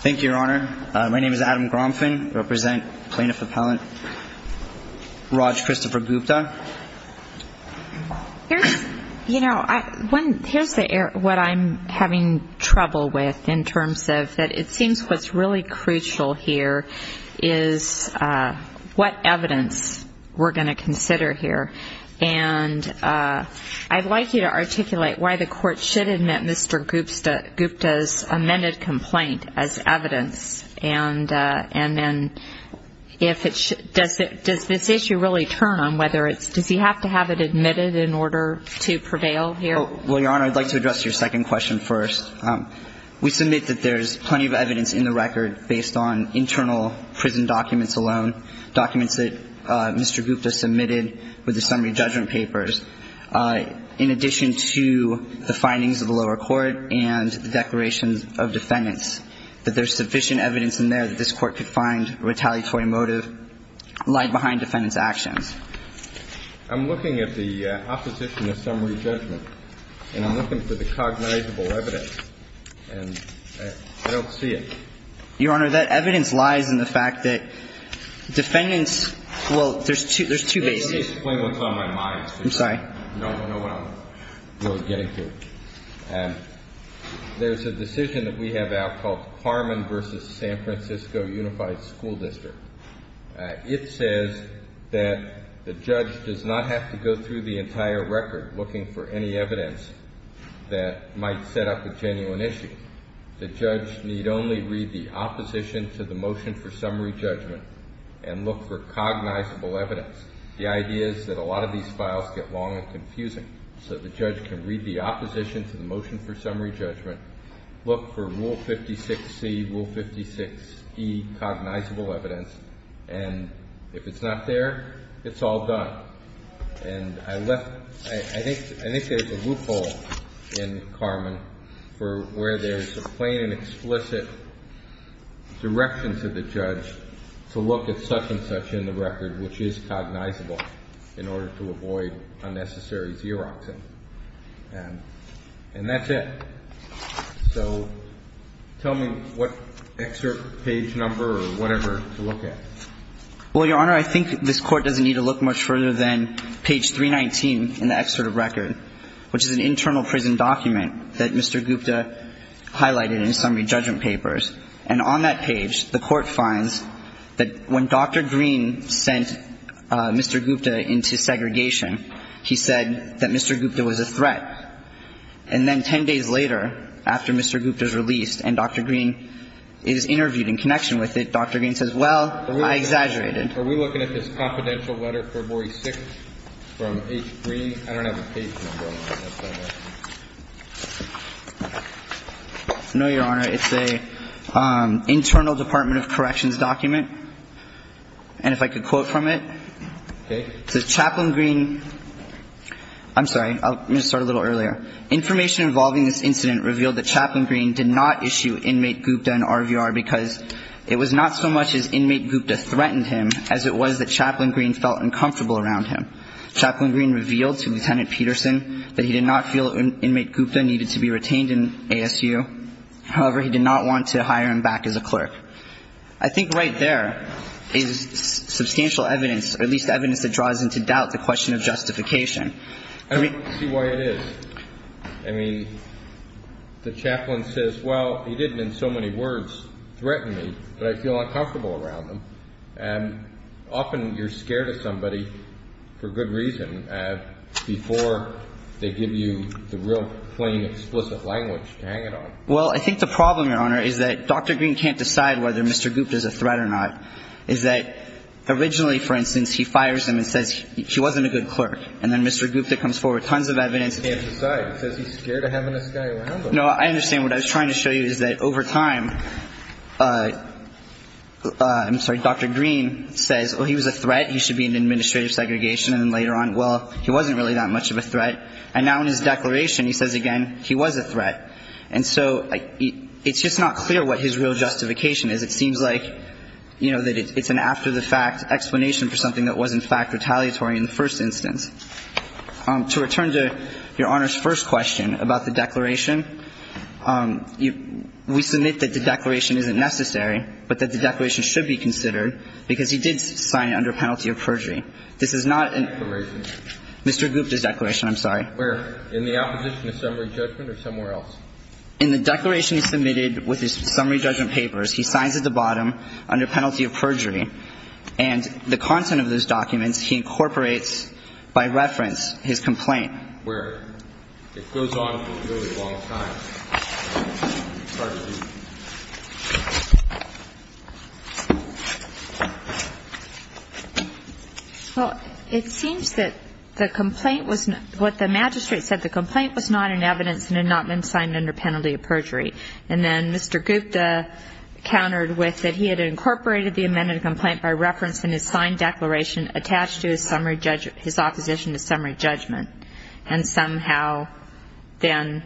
Thank you, Your Honor. My name is Adam Gromfin. I represent Plaintiff Appellant Raj Krishnaprabhupta. Here's what I'm having trouble with in terms of that it seems what's really crucial here is what evidence we're going to consider here. And I'd like you to articulate why the Court should admit Mr. Gupta's amended complaint as evidence. And then if it's – does this issue really turn on whether it's – does he have to have it admitted in order to prevail here? MR. KRISHNAPRABHUPTA Well, Your Honor, I'd like to address your second question first. We submit that there's plenty of evidence in the record based on internal prison documents alone, documents that Mr. Gupta submitted with the summary judgment papers, in addition to the findings of the lower court and the declarations of defendants, that there's sufficient evidence in there that this Court could find a retaliatory motive lied behind defendants' actions. JUSTICE KENNEDY I'm looking at the opposition to summary judgment. And I'm looking for the cognizable evidence. And I don't see it. MR. KRISHNAPRABHUPTA Your Honor, that evidence lies in the fact that defendants – well, there's two bases. JUSTICE KENNEDY Let me explain what's on my mind. MR. KRISHNAPRABHUPTA I'm sorry. JUSTICE KENNEDY You don't want to know what I'm getting to. There's a decision that we have out called Parman v. San Francisco Unified School District. It says that the judge does not have to go through the entire record looking for any evidence that might set up a genuine issue. The judge need only read the opposition to the motion for summary judgment and look for cognizable evidence. The idea is that a lot of these files get long and confusing. So the judge can read the opposition to the motion for summary judgment, look for Rule 56C, Rule 56E cognizable evidence, and if it's not there, it's all done. And I left – I think there's a loophole in Carmen for where there's a plain and explicit direction to the judge to look at such and such in the record, which is cognizable, in order to avoid unnecessary xeroxing. And that's it. So tell me what excerpt page number or whatever to look at. Well, Your Honor, I think this Court doesn't need to look much further than page 319 in the excerpt of record, which is an internal prison document that Mr. Gupta highlighted in his summary judgment papers. And on that page, the Court finds that when Dr. Green sent Mr. Gupta into segregation, he said that Mr. Gupta was a threat. And then 10 days later, after Mr. Gupta is released and Dr. Green is interviewed in connection with it, Dr. Green says, well, I exaggerated. Are we looking at this confidential letter, 446, from H. Green? I don't have a page number on that. No, Your Honor. It's an internal Department of Corrections document. And if I could quote from it. Okay. It says, Chaplain Green – I'm sorry. I'm going to start a little earlier. Information involving this incident revealed that Chaplain Green did not issue inmate Gupta an RVR because it was not so much as inmate Gupta threatened him as it was that Chaplain Green felt uncomfortable around him. Chaplain Green revealed to Lieutenant Peterson that he did not feel inmate Gupta needed to be retained in ASU. However, he did not want to hire him back as a clerk. I think right there is substantial evidence, or at least evidence that draws into doubt the question of justification. I don't see why it is. I mean, the chaplain says, well, he didn't in so many words threaten me, but I feel uncomfortable around him. And often you're scared of somebody for good reason before they give you the real, plain, explicit language to hang it on. Well, I think the problem, Your Honor, is that Dr. Green can't decide whether Mr. Gupta is a threat or not. Is that originally, for instance, he fires him and says he wasn't a good clerk. And then Mr. Gupta comes forward with tons of evidence. He can't decide. He says he's scared of having this guy around him. No, I understand. What I was trying to show you is that over time, I'm sorry, Dr. Green says, well, he was a threat. He should be in administrative segregation. And then later on, well, he wasn't really that much of a threat. And now in his declaration, he says again he was a threat. And so it's just not clear what his real justification is. It seems like, you know, that it's an after-the-fact explanation for something that was, in fact, retaliatory in the first instance. To return to Your Honor's first question about the declaration, we submit that the declaration isn't necessary, but that the declaration should be considered, because he did sign it under penalty of perjury. Mr. Gupta's declaration, I'm sorry. Where? In the opposition to summary judgment or somewhere else? In the declaration submitted with his summary judgment papers, he signs at the bottom under penalty of perjury. And the content of those documents, he incorporates by reference his complaint. Where? It goes on for a really long time. Sorry. Well, it seems that the complaint was what the magistrate said, the complaint was not in evidence and had not been signed under penalty of perjury. And then Mr. Gupta countered with that he had incorporated the amended complaint by reference in his signed declaration attached to his summary judgment, his opposition to summary judgment. And somehow then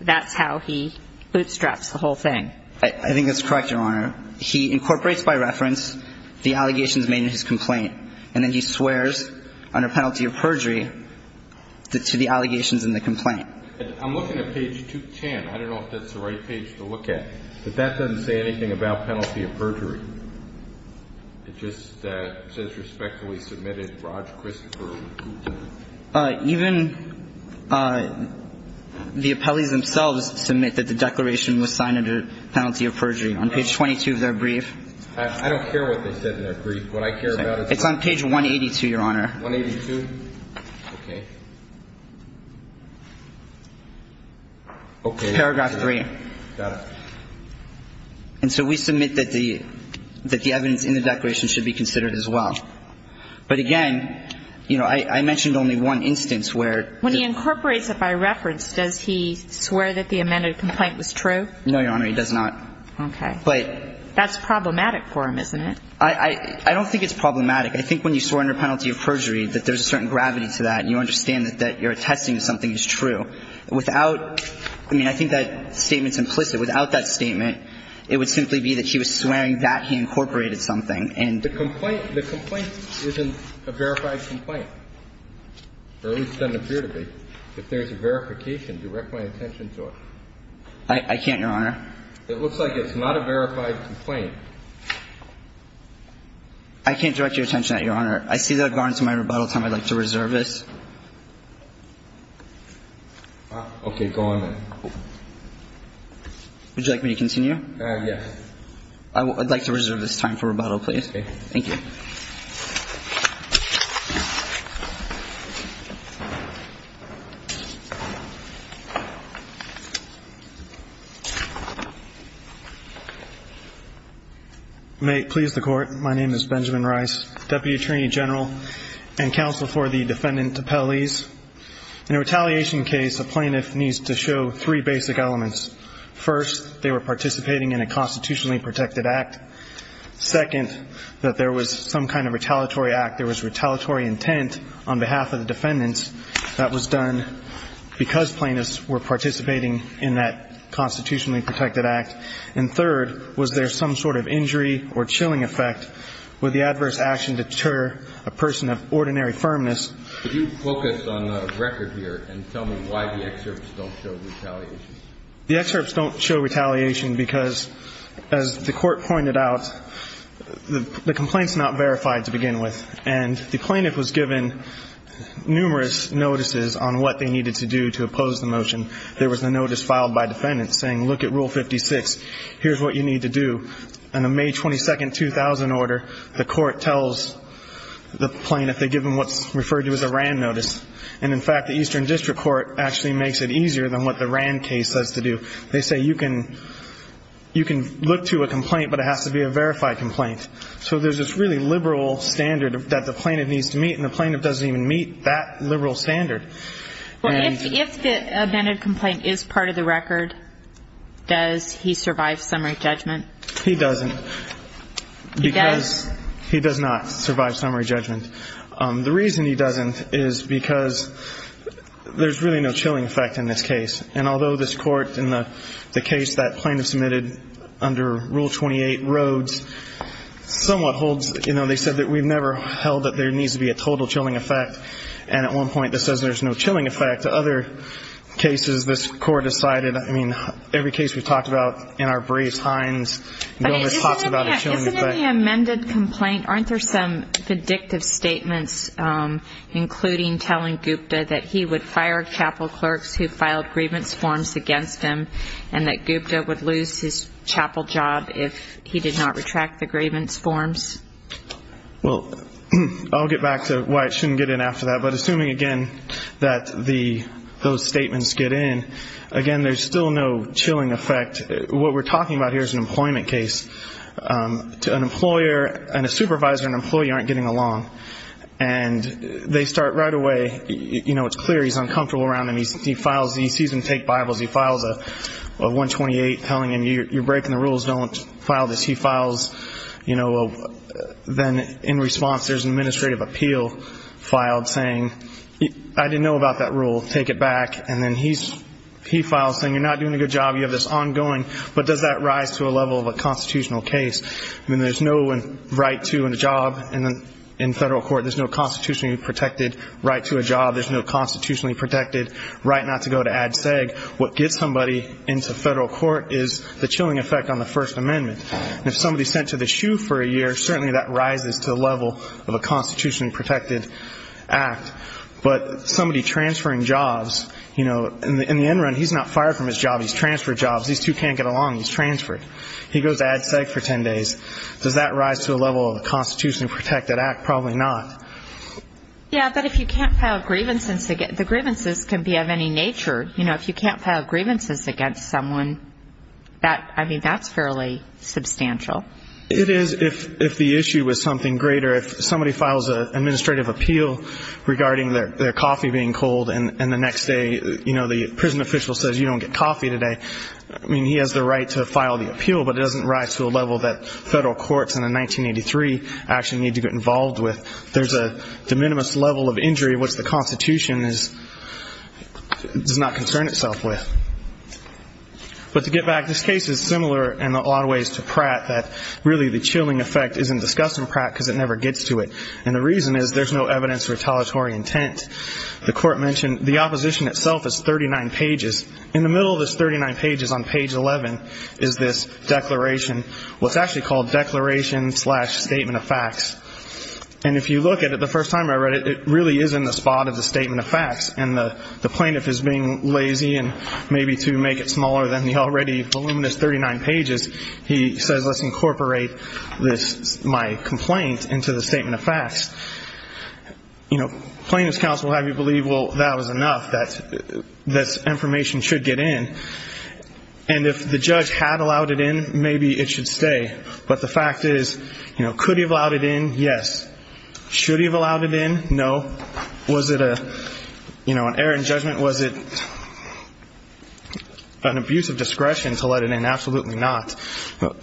that's how he bootstraps the whole thing. I think that's correct, Your Honor. He incorporates by reference the allegations made in his complaint. And then he swears under penalty of perjury to the allegations in the complaint. I'm looking at page 210. I don't know if that's the right page to look at. But that doesn't say anything about penalty of perjury. It just says respectfully submitted, Roger Christopher Gupta. Even the appellees themselves submit that the declaration was signed under penalty of perjury on page 22 of their brief. I don't care what they said in their brief. What I care about is the evidence. It's on page 182, Your Honor. 182? Okay. Paragraph 3. Got it. And so we submit that the evidence in the declaration should be considered as well. But again, you know, I mentioned only one instance where the ---- When he incorporates it by reference, does he swear that the amended complaint was true? No, Your Honor, he does not. Okay. But ---- That's problematic for him, isn't it? I don't think it's problematic. I think when you swear under penalty of perjury that there's a certain gravity to that and you understand that you're attesting to something that's true. Without ---- I mean, I think that statement's implicit. Without that statement, it would simply be that he was swearing that he incorporated something and ---- But the complaint isn't a verified complaint. Or at least it doesn't appear to be. If there's a verification, direct my attention to it. I can't, Your Honor. It looks like it's not a verified complaint. I can't direct your attention at it, Your Honor. I see that I've gone into my rebuttal time. I'd like to reserve this. Okay. Go on then. Would you like me to continue? Yes. I'd like to reserve this time for rebuttal, please. Okay. Thank you. May it please the Court. My name is Benjamin Rice, Deputy Attorney General and counsel for the defendant Tapeliz. In a retaliation case, a plaintiff needs to show three basic elements. First, they were participating in a constitutionally protected act. Second, that there was some kind of retaliatory act. There was retaliatory intent on behalf of the defendants. That was done because plaintiffs were participating in that constitutionally protected act. And third, was there some sort of injury or chilling effect? Would the adverse action deter a person of ordinary firmness? Could you focus on the record here and tell me why the excerpts don't show retaliation? The excerpts don't show retaliation because, as the Court pointed out, the complaint is not verified to begin with. And the plaintiff was given numerous notices on what they needed to do to oppose the motion. There was a notice filed by defendants saying, look at Rule 56. Here's what you need to do. And the May 22, 2000 order, the Court tells the plaintiff they give them what's referred to as a RAND notice. And, in fact, the Eastern District Court actually makes it easier than what the RAND case says to do. They say you can look to a complaint, but it has to be a verified complaint. So there's this really liberal standard that the plaintiff needs to meet, and the plaintiff doesn't even meet that liberal standard. Well, if the amended complaint is part of the record, does he survive summary judgment? He doesn't. He does? Because he does not survive summary judgment. The reason he doesn't is because there's really no chilling effect in this case. And although this Court, in the case that plaintiff submitted under Rule 28, Rhodes, somewhat holds, you know, they said that we've never held that there needs to be a total chilling effect. And at one point this says there's no chilling effect. Other cases this Court has cited, I mean, every case we've talked about in our briefs, Hines. No response about a chilling effect. Isn't in the amended complaint, aren't there some predictive statements, including telling Gupta that he would fire chapel clerks who filed grievance forms against him, and that Gupta would lose his chapel job if he did not retract the grievance forms? Well, I'll get back to why it shouldn't get in after that. But assuming, again, that those statements get in, again, there's still no chilling effect. What we're talking about here is an employment case. An employer and a supervisor and an employee aren't getting along. And they start right away, you know, it's clear he's uncomfortable around them. He files and he sees them take Bibles. He files a 128 telling him, you're breaking the rules, don't file this. He files, you know, then in response there's an administrative appeal filed saying, I didn't know about that rule, take it back. And then he files saying, you're not doing a good job, you have this ongoing. But does that rise to a level of a constitutional case? I mean, there's no right to a job in federal court, there's no constitutionally protected right to a job, there's no constitutionally protected right not to go to ad seg. What gets somebody into federal court is the chilling effect on the First Amendment. And if somebody's sent to the shoe for a year, certainly that rises to a level of a constitutionally protected act. But somebody transferring jobs, you know, in the end run he's not fired from his job, he's transferred jobs. These two can't get along, he's transferred. He goes ad seg for ten days. Does that rise to a level of a constitutionally protected act? Probably not. Yeah, but if you can't file grievances, the grievances can be of any nature. You know, if you can't file grievances against someone, I mean, that's fairly substantial. It is if the issue is something greater. If somebody files an administrative appeal regarding their coffee being cold and the next day, you know, the prison official says you don't get coffee today, I mean, he has the right to file the appeal, but it doesn't rise to a level that federal courts in 1983 actually need to get involved with. There's a de minimis level of injury which the Constitution does not concern itself with. But to get back, this case is similar in a lot of ways to Pratt, that really the reason is there's no evidence retaliatory intent. The court mentioned the opposition itself is 39 pages. In the middle of this 39 pages on page 11 is this declaration, what's actually called declaration slash statement of facts. And if you look at it the first time I read it, it really is in the spot of the statement of facts. And the plaintiff is being lazy and maybe to make it smaller than the already voluminous 39 pages, he says let's incorporate my complaint into the statement of facts. You know, plaintiff's counsel will have you believe, well, that was enough, that information should get in. And if the judge had allowed it in, maybe it should stay. But the fact is, you know, could he have allowed it in? Yes. Should he have allowed it in? No. Was it an error in judgment? Was it an abuse of discretion to let it in? Absolutely not.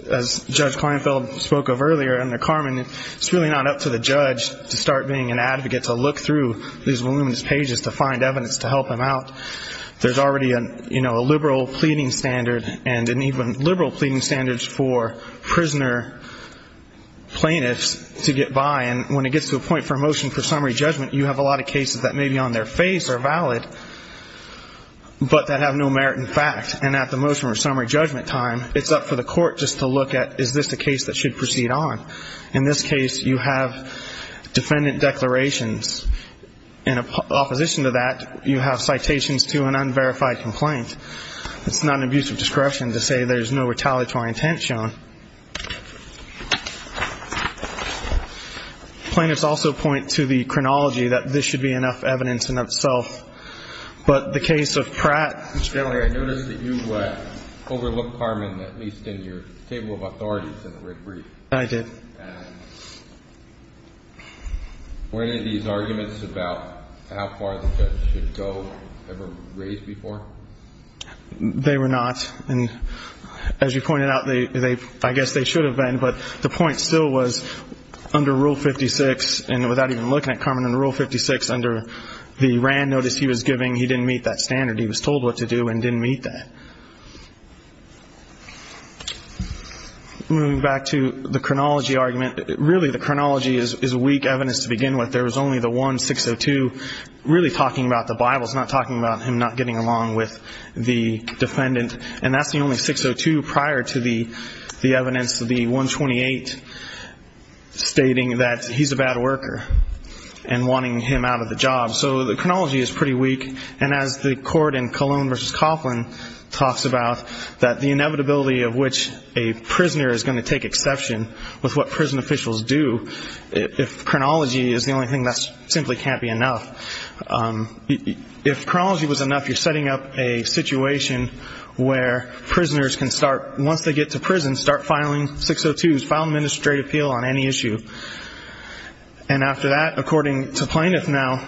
As Judge Kleinfeld spoke of earlier and Carmen, it's really not up to the judge to start being an advocate to look through these voluminous pages to find evidence to help him out. There's already, you know, a liberal pleading standard and an even liberal pleading standard for prisoner plaintiffs to get by. And when it gets to a point for a motion for summary judgment, you have a lot of cases that maybe on their face are valid, but that have no merit in fact. And at the motion for summary judgment time, it's up for the court just to look at is this a case that should proceed on. In this case, you have defendant declarations. In opposition to that, you have citations to an unverified complaint. It's not an abuse of discretion to say there's no retaliatory intent shown. Plaintiffs also point to the chronology that this should be enough evidence in itself. But the case of Pratt. I noticed that you overlooked Carmen at least in your table of authorities in the red brief. I did. Were any of these arguments about how far the judge should go ever raised before? They were not. And as you pointed out, I guess they should have been. But the point still was under Rule 56, and without even looking at Carmen, under Rule 56, under the RAND notice he was giving, he didn't meet that standard. He was told what to do and didn't meet that. Moving back to the chronology argument, really the chronology is weak evidence to begin with. There was only the 1602 really talking about the Bible. It's not talking about him not getting along with the defendant. And that's the only 602 prior to the evidence, the 128 stating that he's a bad worker and wanting him out of the job. So the chronology is pretty weak. And as the court in Colon v. Coughlin talks about, that the inevitability of which a prisoner is going to take exception with what prison officials do, if chronology is the only thing, that simply can't be enough. If chronology was enough, you're setting up a situation where prisoners can start, once they get to prison, start filing 602s, file an administrative appeal on any And after that, according to Plaintiff now,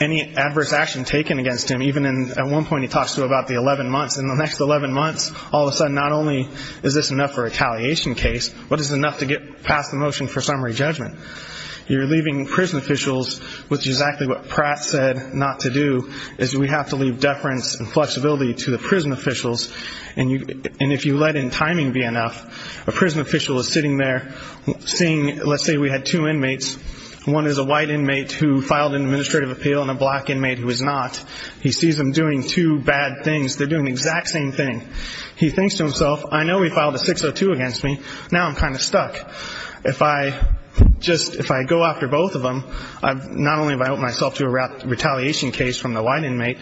any adverse action taken against him, even at one point he talks about the 11 months. In the next 11 months, all of a sudden, not only is this enough for a retaliation case, but it's enough to get past the motion for summary judgment. You're leaving prison officials with exactly what Pratt said not to do, is we have to leave deference and flexibility to the prison officials. And if you let in timing be enough, a prison official is sitting there seeing, let's say we had two inmates, one is a white inmate who filed an administrative appeal and a black inmate who is not. He sees them doing two bad things. They're doing the exact same thing. He thinks to himself, I know he filed a 602 against me, now I'm kind of stuck. If I just, if I go after both of them, not only have I opened myself to a retaliation case from the white inmate,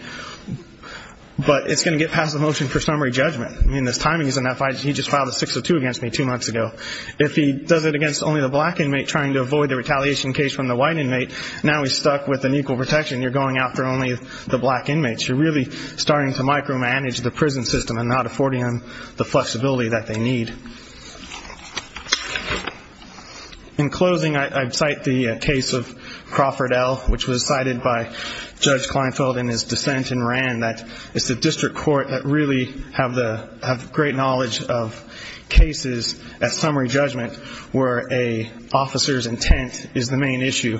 but it's going to get past the motion for summary judgment. I mean, if timing is enough, he just filed a 602 against me two months ago. If he does it against only the black inmate trying to avoid the retaliation case from the white inmate, now he's stuck with an equal protection. You're going after only the black inmates. You're really starting to micromanage the prison system and not affording them the flexibility that they need. In closing, I'd cite the case of Crawford L., which was cited by Judge Kleinfeld in his dissent and ran, that it's the district court that really have the, have the ability to make a summary judgment where a officer's intent is the main issue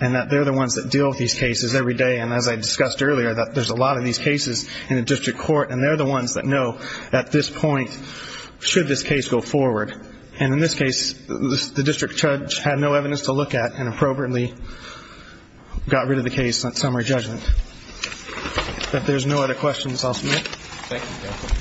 and that they're the ones that deal with these cases every day. And as I discussed earlier, that there's a lot of these cases in the district court and they're the ones that know at this point should this case go forward. And in this case, the district judge had no evidence to look at and appropriately got rid of the case on summary judgment. If there's no other questions, I'll submit. Thank you.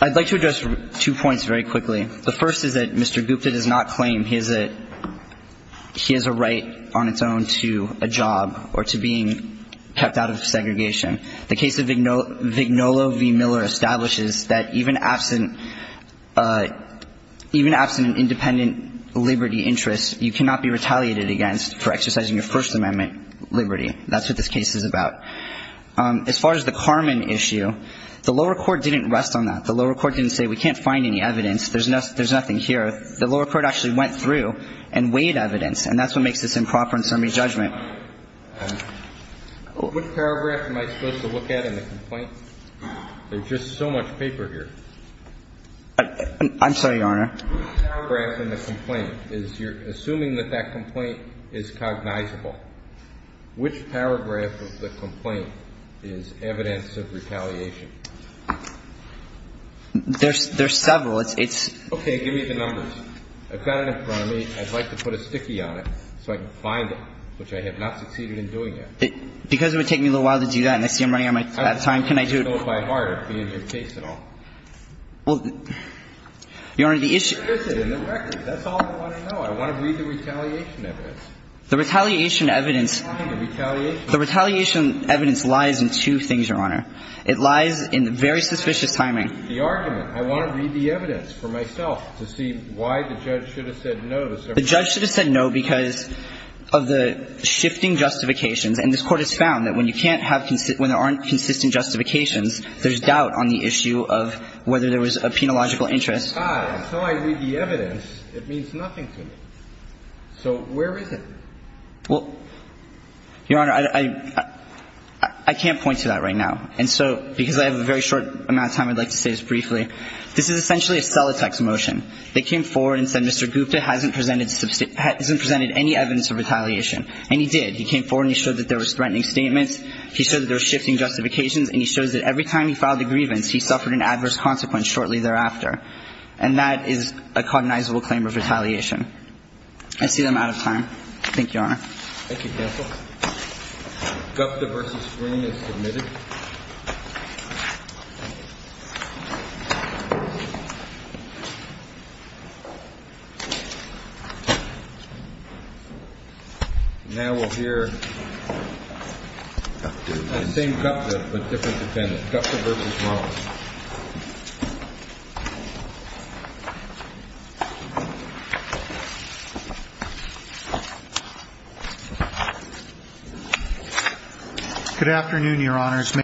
I'd like to address two points very quickly. The first is that Mr. Gupta does not claim he has a, he has a right on its own to a job or to being kept out of segregation. The case of Vignolo v. Miller establishes that even absent, even absent an independent liberty interest, you cannot be retaliated against for exercising your first amendment liberty. That's what this case is about. As far as the Carmen issue, the lower court didn't rest on that. The lower court didn't say we can't find any evidence. There's nothing here. The lower court actually went through and weighed evidence and that's what makes this improper in summary judgment. Which paragraph am I supposed to look at in the complaint? There's just so much paper here. I'm sorry, Your Honor. The paragraph in the complaint is you're assuming that that complaint is cognizable. Which paragraph of the complaint is evidence of retaliation? There's several. It's okay. Give me the numbers. I've got it in front of me. I'd like to put a sticky on it so I can find it, which I have not succeeded in doing yet. Because it would take me a little while to do that and I see I'm running out of time, can I do it? It would be in your case at all. Well, Your Honor, the issue. That's all I want to know. I want to read the retaliation evidence. The retaliation evidence lies in two things, Your Honor. It lies in very suspicious timing. The argument. I want to read the evidence for myself to see why the judge should have said no. The judge should have said no because of the shifting justifications. And this Court has found that when you can't have – when there aren't consistent justifications, there's doubt on the issue of whether there was a penological interest. Ah, and so I read the evidence. It means nothing to me. So where is it? Well, Your Honor, I can't point to that right now. And so because I have a very short amount of time, I'd like to say this briefly. This is essentially a cellotex motion. They came forward and said Mr. Gupta hasn't presented – hasn't presented any evidence of retaliation. And he did. He came forward and he showed that there was threatening statements. He showed that there was shifting justifications. And he shows that every time he filed a grievance, he suffered an adverse consequence shortly thereafter. And that is a cognizable claim of retaliation. I see that I'm out of time. Thank you, Your Honor. Thank you, counsel. Gupta v. Green is submitted. And now we'll hear the same Gupta but different defendant, Gupta v. Ross. Good afternoon, Your Honors.